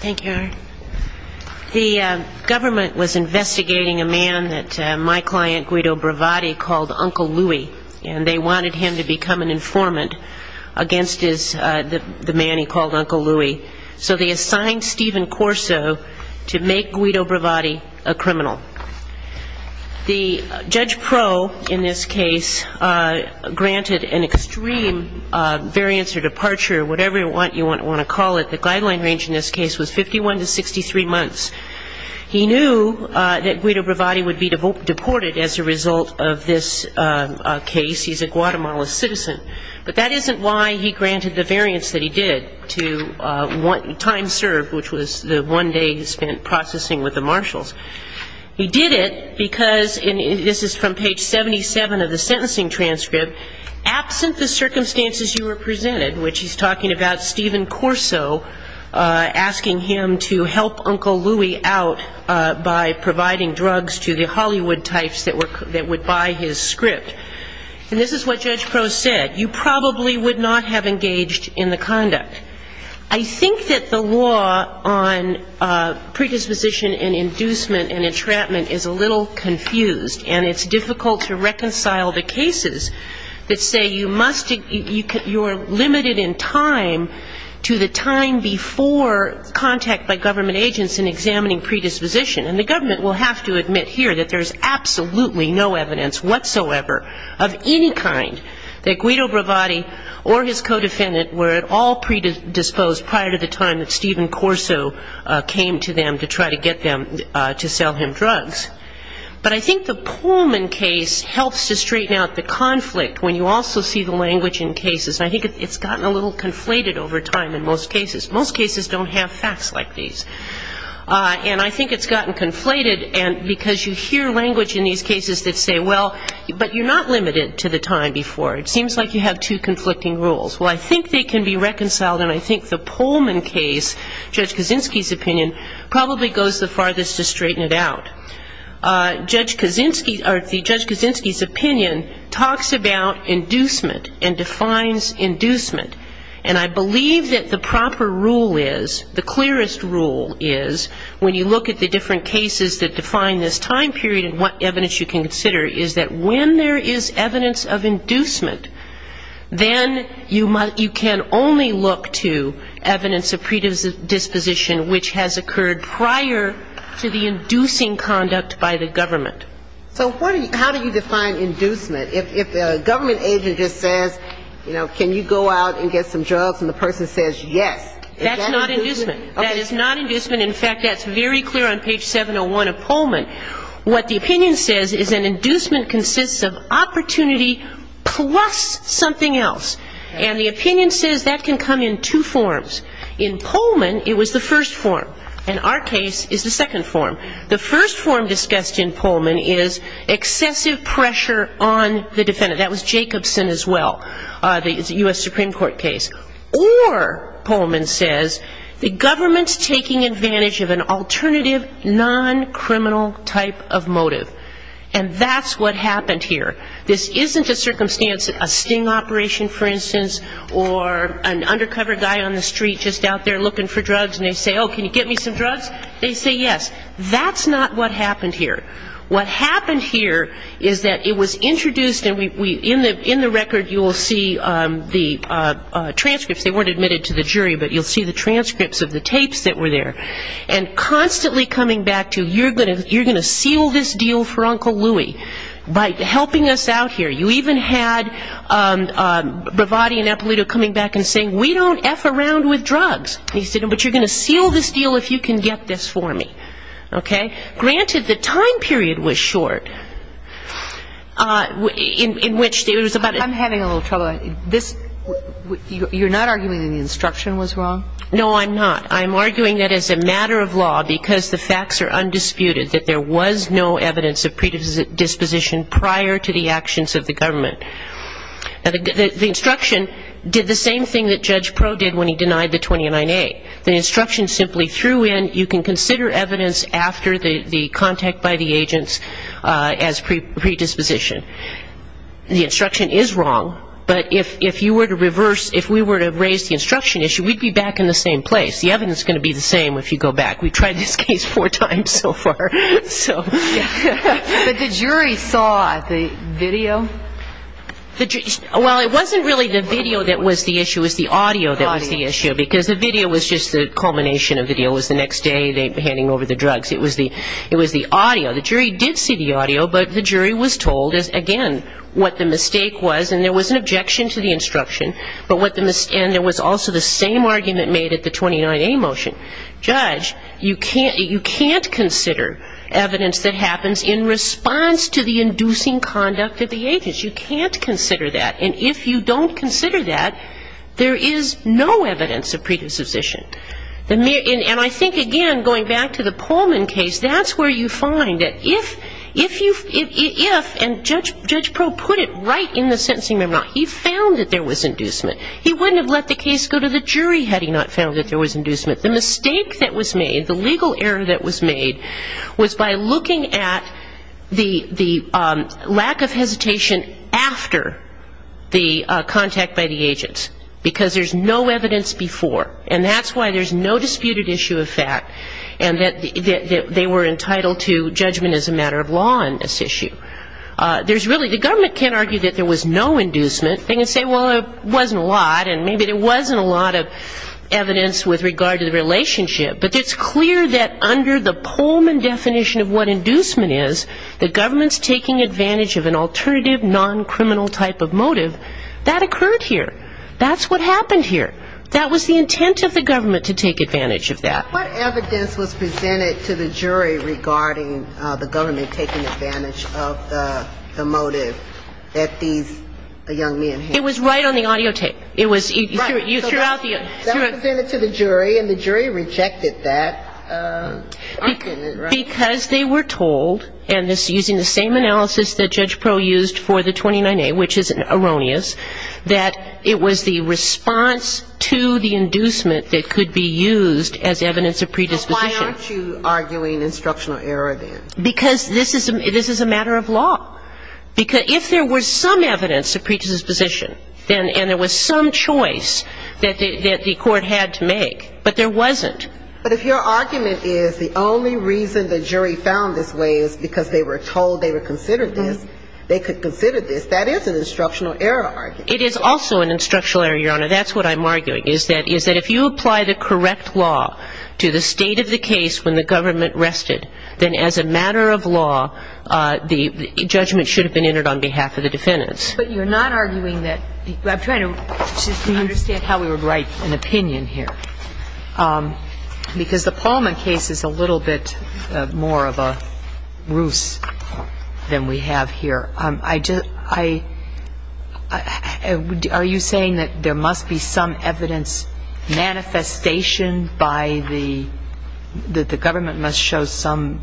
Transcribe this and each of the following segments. Thank you. The government was investigating a man that my client Guido Bravatti called Uncle Louie, and they wanted him to become an informant against the man he called Uncle Louie. So they assigned Stephen Corso to make Guido Bravatti a criminal. The judge pro, in this case, granted an extreme variance or departure, whatever you want to call it. The guideline range in this case was 51 to 63 months. He knew that Guido Bravatti would be deported as a result of this case. He's a Guatemala citizen. But that isn't why he granted the variance that he did to time served, which was the one day he spent processing with the marshals. He did it because, and this is from page 77 of the sentencing transcript, where, absent the circumstances you represented, which he's talking about Stephen Corso asking him to help Uncle Louie out by providing drugs to the Hollywood types that would buy his script. And this is what Judge Pro said. You probably would not have engaged in the conduct. I think that the law on predisposition and inducement and entrapment is a little confused, and it's difficult to reconcile the cases that say you must, you are limited in time to the time before contact by government agents in examining predisposition. And the government will have to admit here that there's absolutely no evidence whatsoever of any kind that Guido Bravatti or his co-defendant were at all predisposed prior to the time that Stephen Corso came to them to try to get them to sell him drugs. But I think the Pullman case helps to straighten out the conflict when you also see the language in cases. I think it's gotten a little conflated over time in most cases. Most cases don't have facts like these. And I think it's gotten conflated because you hear language in these cases that say, well, but you're not limited to the time before. It seems like you have two conflicting rules. Well, I think they probably goes the farthest to straighten it out. Judge Kaczynski's opinion talks about inducement and defines inducement. And I believe that the proper rule is, the clearest rule is, when you look at the different cases that define this time period and what evidence you can consider, is that when there is evidence of inducement, then you can only look to evidence of predisposition which has occurred prior to the inducing conduct by the government. So how do you define inducement? If the government agent just says, you know, can you go out and get some drugs, and the person says yes, is that inducement? That's not inducement. That is not inducement. In fact, that's very clear on page 701 of Pullman. What the opinion says is an inducement consists of opportunity plus something else. And the opinion says that can come in two forms. In Pullman, it was the first form. In our case, it's the second form. The first form discussed in Pullman is excessive pressure on the defendant. That was Jacobson as well, the U.S. Supreme Court case. Or, Pullman says, the government's taking advantage of an alternative non-criminal type of motive. And that's what we're talking about here. So, for instance, or an undercover guy on the street just out there looking for drugs, and they say, oh, can you get me some drugs? They say yes. That's not what happened here. What happened here is that it was introduced, and in the record you will see the transcripts. They weren't admitted to the jury, but you'll see the transcripts of the tapes that were there. And constantly coming back to, you're going to seal this deal for Uncle Louie by helping us out here. You even had Bravatti and Eppolito coming back and saying, we don't F around with drugs. He said, but you're going to seal this deal if you can get this for me. Okay? Granted, the time period was short, in which there was about a ---- I'm having a little trouble. This, you're not arguing that the instruction was wrong? No, I'm not. I'm arguing that as a matter of law, because the facts are undisputed, that there was no evidence of predisposition prior to the actions of the government. The instruction did the same thing that Judge Pro did when he denied the 29A. The instruction simply threw in, you can consider evidence after the contact by the agents as predisposition. The instruction is wrong, but if you were to reverse, if we were to raise the instruction issue, we'd be back in the same place. The evidence is going to be the same if you go back. We've tried this case four times so far. But the jury saw the video? Well, it wasn't really the video that was the issue. It was the audio that was the issue, because the video was just the culmination of the deal. It was the next day, they were handing over the drugs. It was the audio. The jury did see the audio, but the jury was told, again, what the mistake was. And there was an objection to the instruction, but what the mistake was. And there was also the same argument made at the 29A motion. Judge, you can't consider evidence that happens in response to the inducing conduct of the agents. You can't consider that. And if you don't consider that, there is no evidence of predisposition. And I think, again, going back to the Pullman case, that's where you find that if you if, and Judge Pro put it right in the sentencing memorandum. He found that there was inducement. He wouldn't have let the case go to the jury had he not found that there was inducement. The mistake that was made, the legal error that was made, was by looking at the lack of hesitation after the contact by the agents. Because there's no evidence before. And that's why there's no disputed issue of fact. And that they were entitled to judgment as a matter of law on this issue. There's really, the government can't argue that there was no inducement. They can say, well, there wasn't a lot. And maybe there wasn't a lot of evidence with regard to the relationship. But it's clear that under the Pullman definition of what inducement is, the government's taking advantage of an alternative, non-criminal type of motive. That occurred here. That's what happened here. That was the intent of the government to take advantage of that. What evidence was presented to the jury regarding the government taking advantage of the motive that these young men had? It was right on the audio tape. It was throughout the entirety of the case. So that was presented to the jury. And the jury rejected that argument, right? Because they were told, and this is using the same analysis that Judge Proh used for the 29A, which is erroneous, that it was the response to the inducement that could be used as evidence of predisposition. So why aren't you arguing instructional error then? Because this is a matter of law. Because if there was some evidence of predisposition, and there was some choice that the court had to make, but there wasn't. But if your argument is the only reason the jury found this way is because they were told they were considered this, they could consider this, that is an instructional error argument. It is also an instructional error, Your Honor. That's what I'm arguing, is that if you apply the correct law to the state of the case when the government rested, then as a matter of law, the judgment should have been entered on behalf of the defendants. But you're not arguing that the – I'm trying to – just to understand how we would write an opinion here. Because the Pullman case is a little bit more of a ruse than we have here. I just – I – are you saying that there must be some evidence manifesting by the – that the government must show some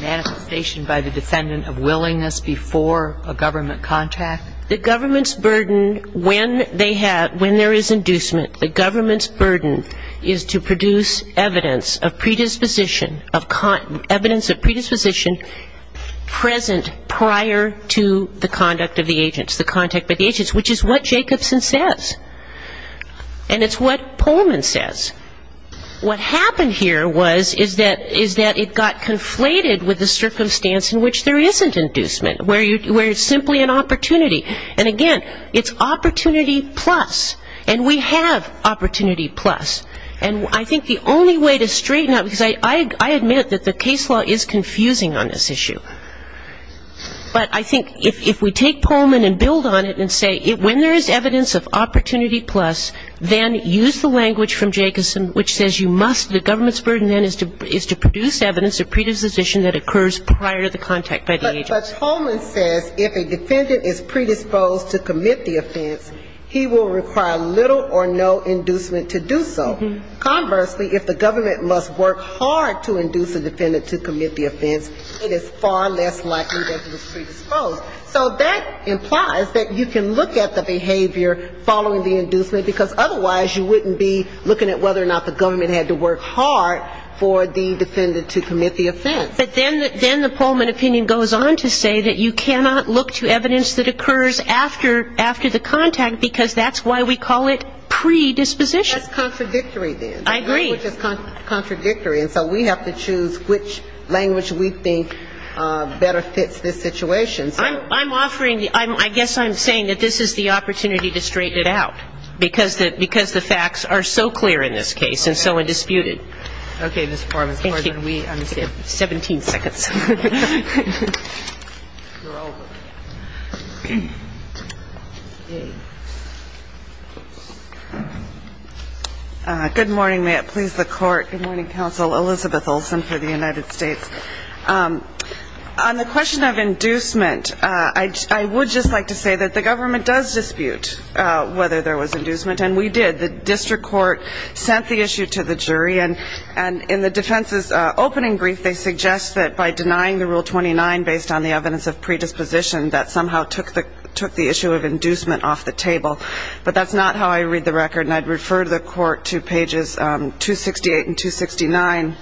manifestation by the defendant of willingness before a government contact? The government's burden when they have – when there is inducement, the government's burden is to produce evidence of predisposition – evidence of predisposition present prior to the conduct of the agents, the contact by the agents, which is what Jacobson says. And it's what Pullman says. What happened here was – is that – is that it got conflated with the circumstance in which there isn't inducement, where you – where it's simply an opportunity. And again, it's opportunity plus. And we have opportunity plus. And I think the only way to straighten out – because I admit that the case law is confusing on this issue. But I think if we take Pullman and build on it and say when there is evidence of opportunity plus, then use the language from Jacobson which says you must – the government's burden then is to produce evidence of predisposition that occurs prior to the contact by the agents. But Pullman says if a defendant is predisposed to commit the offense, he will require little or no inducement to do so. Conversely, if the government must work hard to induce a defendant, it is far less likely that he was predisposed. So that implies that you can look at the behavior following the inducement because otherwise you wouldn't be looking at whether or not the government had to work hard for the defendant to commit the offense. But then – then the Pullman opinion goes on to say that you cannot look to evidence that occurs after – after the contact because that's why we call it predisposition. That's contradictory then. I agree. Which is contradictory. And so we have to choose which language we think better fits this situation. I'm – I'm offering – I guess I'm saying that this is the opportunity to straighten it out because the – because the facts are so clear in this case and so undisputed. Okay, Ms. Corbin. Thank you. We understand. Seventeen seconds. You're over. Good morning. May it please the Court. Good morning, Counsel. Elizabeth Olsen for the United States. On the question of inducement, I – I would just like to say that the government does dispute whether there was inducement. And we did. The district court sent the issue to the jury. And – and in the defense's opening brief, they suggest that by denying the Rule 29 based on the evidence of predisposition, that somehow took the – took the issue of inducement off the table. But that's not how I read the record. And I'd refer the Court to pages 268 and 269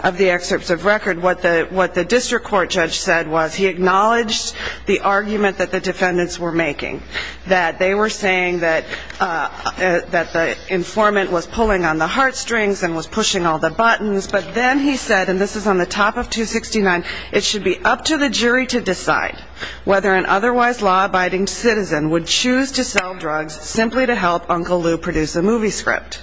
of the excerpts of record. What the – what the district court judge said was he acknowledged the argument that the defendants were making. That they were saying that – that the informant was pulling on the heartstrings and was pushing all the buttons. But then he said – and this is on the top of 269 – it should be up to the jury to decide whether an otherwise law-abiding citizen would choose to sell drugs simply to help Uncle Lou produce a movie script.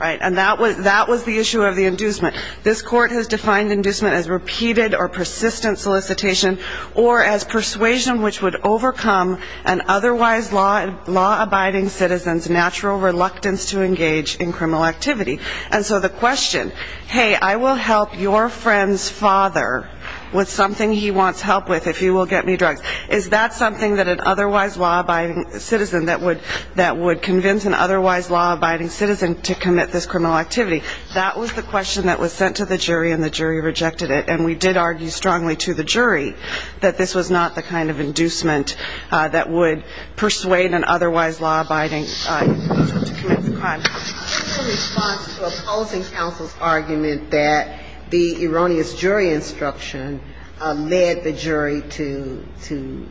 Right? And that was – that was the issue of the inducement. This Court has defined inducement as repeated or persistent solicitation or as persuasion which would overcome an otherwise law – law-abiding citizen's natural reluctance to engage in criminal activity. And so the question, hey, I will help your friend's father with something he wants help with if you will get me drugs. Is that something that an otherwise law-abiding citizen that would – that would convince an otherwise law-abiding citizen to commit this criminal activity? That was the question that was sent to the jury and the jury rejected it. And we did argue strongly to the jury that this was not the kind of inducement that would persuade an otherwise law-abiding citizen to commit the crime. What's the response to opposing counsel's argument that the erroneous jury instruction led the jury to – to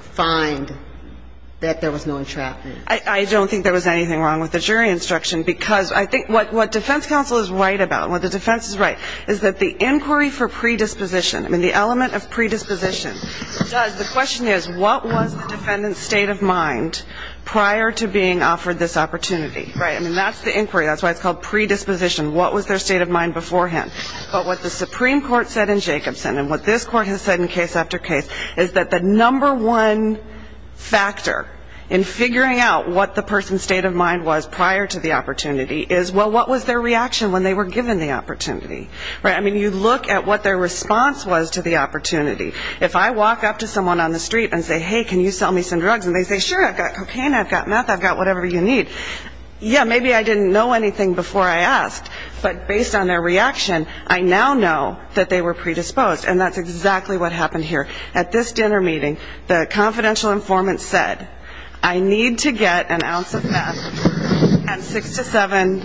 find that there was no entrapment? I don't think there was anything wrong with the jury instruction because I think what defense counsel is right about, what the defense is right, is that the inquiry for predisposition and the element of predisposition does – the question is what was the defendant's state of mind prior to being offered this opportunity? Right. I mean, that's the inquiry. That's why it's called predisposition. What was their state of mind beforehand? But what the Supreme Court said in Jacobson and what this court has said in case after case is that the number one factor in figuring out what the person's state of mind was prior to the opportunity is, well, what was their reaction when they were given the opportunity? Right? I mean, you look at what their response was to the opportunity. If I walk up to someone on the street and say, hey, can you sell me some drugs? And they say, sure, I've got cocaine, I've got meth, I've got whatever you need. Yeah, maybe I didn't know anything before I asked, but based on their reaction, I now know that they were predisposed. And that's exactly what happened here. At this dinner meeting, the confidential informant said, I need to get an ounce of meth and six to seven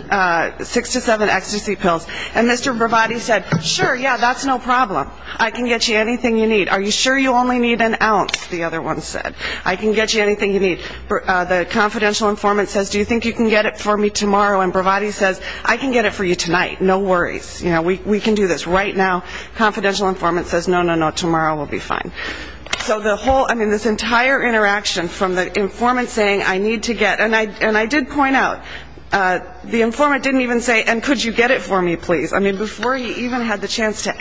– six to seven ecstasy pills. And Mr. Bravati said, sure, yeah, that's no problem. I can get you anything you need. Are you sure you only need an ounce? The other one said. I can get you anything you need. The confidential informant says, do you think you can get it for me tomorrow? And Bravati says, I can get it for you tonight, no worries. We can do this right now. Confidential informant says, no, no, no, tomorrow will be fine. So the whole – I mean, this entire interaction from the informant saying, I need to get – and I did point out, the informant didn't even say, and could you get it for me, please? I mean, before he even had the answer,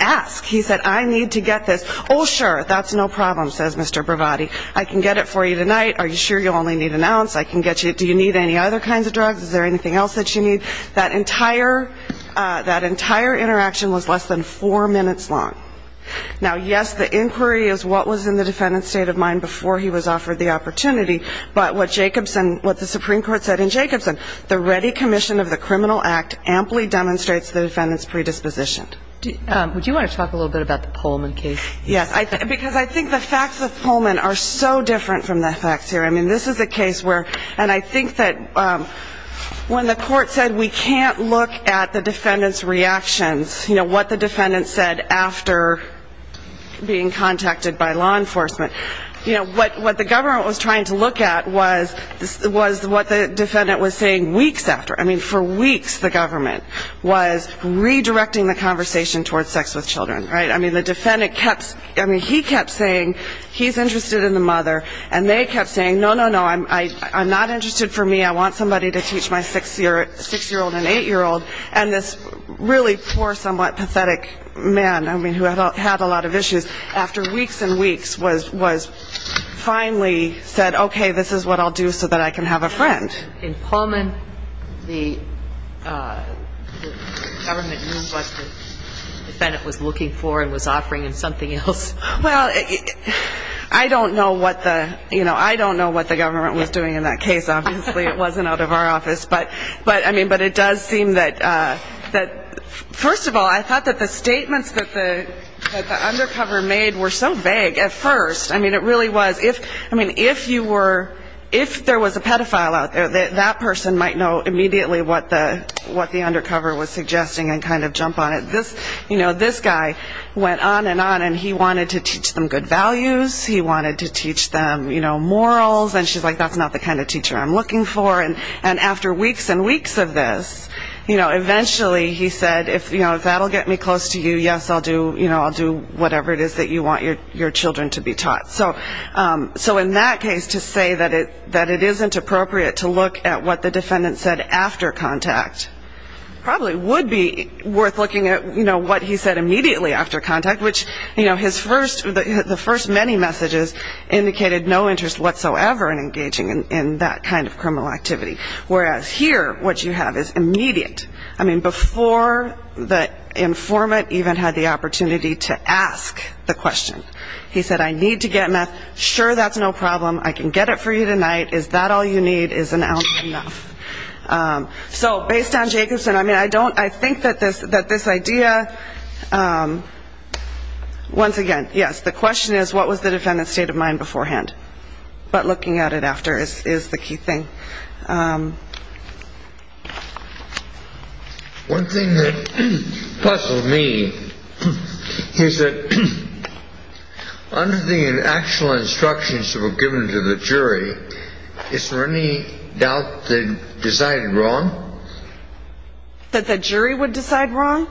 that's no problem, says Mr. Bravati. I can get it for you tonight. Are you sure you only need an ounce? I can get you – do you need any other kinds of drugs? Is there anything else that you need? That entire – that entire interaction was less than four minutes long. Now, yes, the inquiry is what was in the defendant's state of mind before he was offered the opportunity, but what Jacobson – what the Supreme Court said in Jacobson, the ready commission of the Criminal Act amply demonstrates the defendant's predisposition. Would you want to talk a little bit about the Pullman case? Yes, because I think the facts of Pullman are so different from the facts here. I mean, this is a case where – and I think that when the court said we can't look at the defendant's reactions, you know, what the defendant said after being contacted by law enforcement, you know, what the government was trying to look at was what the defendant was saying weeks after. I mean, for weeks the government was redirecting the conversation towards sex with children, right? I mean, the defendant kept – I mean, he kept saying he's interested in the mother, and they kept saying, no, no, no, I'm not interested for me. I want somebody to teach my six-year-old and eight-year-old. And this really poor, somewhat pathetic man, I mean, who had a lot of issues, after weeks and weeks was finally said, okay, this is what I'll do so that I can have a friend. But in Pullman, the government knew what the defendant was looking for and was offering him something else. Well, I don't know what the – you know, I don't know what the government was doing in that case. Obviously, it wasn't out of our office. But, I mean, but it does seem that – first of all, I thought that the statements that the undercover made were so vague at first. I mean, it really was – I mean, if you were – if there was a pedophile out there, that person might know immediately what the undercover was suggesting and kind of jump on it. This guy went on and on, and he wanted to teach them good values. He wanted to teach them morals. And she's like, that's not the kind of teacher I'm looking for. And after weeks and weeks of this, you know, eventually he said, you know, if that will get me close to you, yes, I'll do, you know, I'll do whatever it is that you want your children to be taught. So in that case, to say that it isn't appropriate to look at what the defendant said after contact probably would be worth looking at, you know, what he said immediately after contact, which, you know, his first – the first many messages indicated no interest whatsoever in engaging in that kind of criminal activity. Whereas here, what you have is immediate. I mean, before the informant even had the opportunity to ask the question, he said, I need to get meth. Sure, that's no problem. I can get it for you tonight. Is that all you need? Is an ounce enough? So based on Jacobson, I mean, I don't – I think that this idea – once again, yes, the question is, what was the defendant's state of mind beforehand? But looking at it after is the key thing. One thing that puzzled me is that under the actual instructions that were given to the jury, is there any doubt that it was decided wrong? That the jury would decide wrong?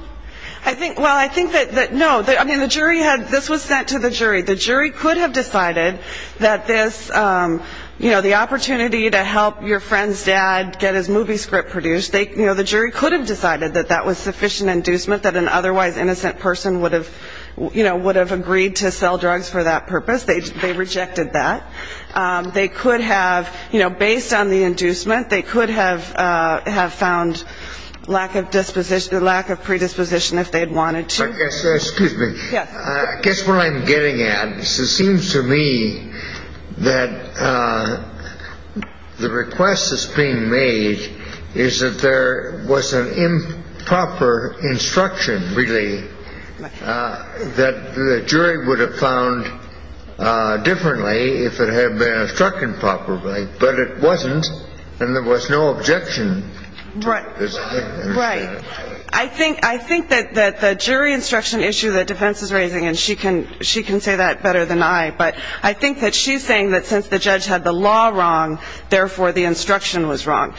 I think – well, I think that no. I mean, the jury had – this was sent to the jury. The jury could have decided that this, you know, the opportunity to help your friend's dad get his movie script produced, they – you know, the jury could have decided that that was sufficient inducement that an otherwise innocent person would have, you know, would have agreed to sell drugs for that purpose. They rejected that. They could have, you know, based on the inducement, they could have found lack of disposition – lack of predisposition if they had wanted to. I guess – excuse me. I guess what I'm getting at is it seems to me that the request that's being made is that there was an improper instruction, really, that the jury would have found differently if it had been instructed properly. But it wasn't, and there was no objection to this. Right. I think that the jury instruction issue that defense is raising – and she can say that better than I – but I think that she's saying that since the judge had the law wrong, therefore the instruction was wrong.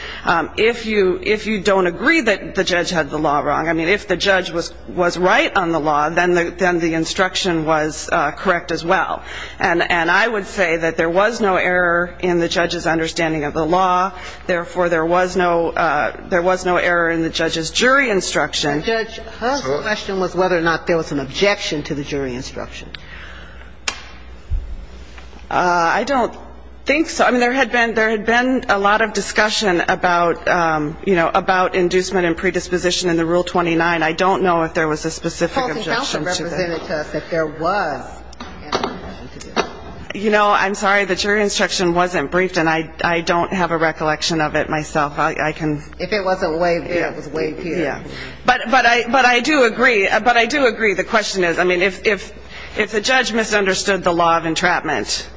If you don't agree that the judge had the law wrong – I mean, if the judge was right on the law, then the instruction was correct as well. And I would say that there was no error in the judge's understanding of the law, therefore there was no – there was no error in the judge's jury instruction. But, Judge, her question was whether or not there was an objection to the jury instruction. I don't think so. I mean, there had been – there had been a lot of discussion about, you know, about inducement and predisposition in the Rule 29. I don't know if there was a specific objection to that. The Court of Counsel represented to us that there was an objection to the instruction. You know, I'm sorry. The jury instruction wasn't briefed, and I don't have a recollection of it myself. I can – If it wasn't way brief, it was way brief. But I do agree. But I do agree. The question is – I mean, if the judge misunderstood the law of entrapment,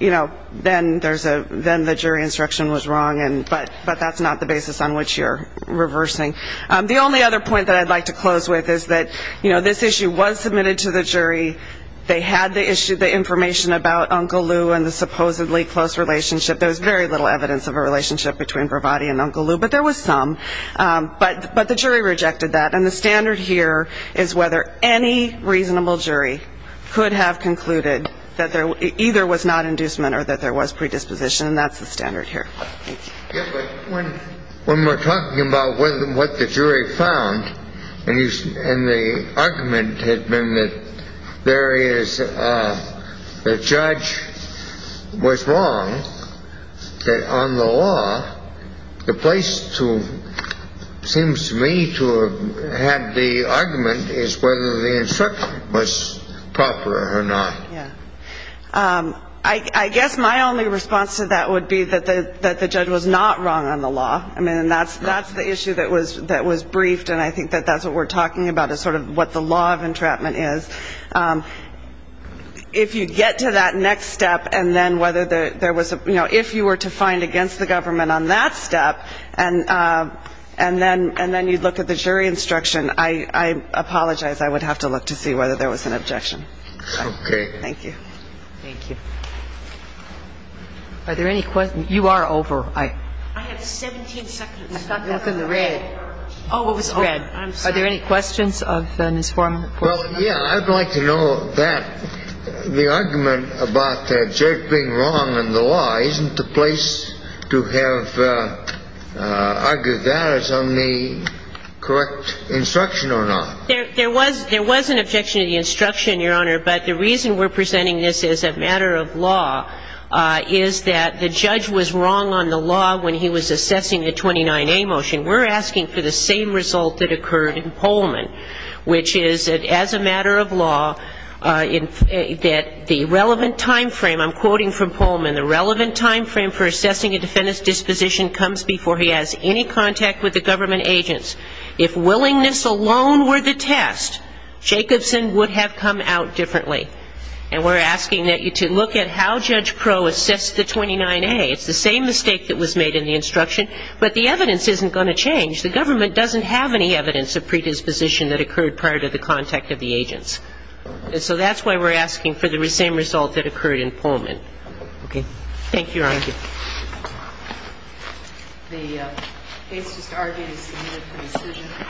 you know, then there's a – then the jury instruction was wrong. But that's not the basis on which you're reversing. The only other point that I'd like to close with is that, you know, this issue was submitted to the jury. They had the issue, the information about Uncle Lou and the supposedly close relationship. There was very little evidence of a relationship between Bravatti and Uncle Lou, but there was some. But the jury rejected that. And the standard here is whether any reasonable jury could have concluded that there either was not inducement or that there was predisposition. And that's the standard here. Thank you. Yes, but when we're talking about what the jury found, and the argument had been that there is – the judge was wrong, that on the law, the place to – seems to me to have the argument is whether the instruction was proper or not. Yeah. I guess my only response to that would be that the judge was not wrong on the law. I mean, and that's the issue that was briefed, and I think that that's what we're talking about is sort of what the law of entrapment is. If you get to that next step, and then whether there was a – you know, if you were to find against the government on that step, and then you look at the jury instruction, I apologize. I would have to look to see whether there was an objection. Okay. Thank you. Thank you. Are there any questions? You are over. I have 17 seconds. You're within the red. Oh, what was the red? I'm sorry. Are there any questions of Ms. Foreman? Well, yeah. I'd like to know that the argument about the judge being wrong on the law, isn't the place to have argued that as on the correct instruction or not? There was an objection to the instruction, Your Honor, but the reason we're presenting this as a matter of law is that the judge was wrong on the law when he was assessing the 29A motion. We're asking for the same result that occurred in Pullman, which is that as a matter of law, that the relevant time frame – I'm quoting from Pullman – the relevant time frame for assessing a defendant's disposition comes before he has any contact with the government agents. If willingness alone were the test, Jacobson would have come out differently. And we're asking that you to look at how Judge Pro assessed the 29A. It's the same mistake that was made in the instruction, but the evidence isn't going to change. The government doesn't have any evidence of predisposition that occurred prior to the contact of the agents. And so that's why we're asking for the same result that occurred in Pullman. Okay. Thank you, Your Honor. Thank you. The case just argued is submitted for decision.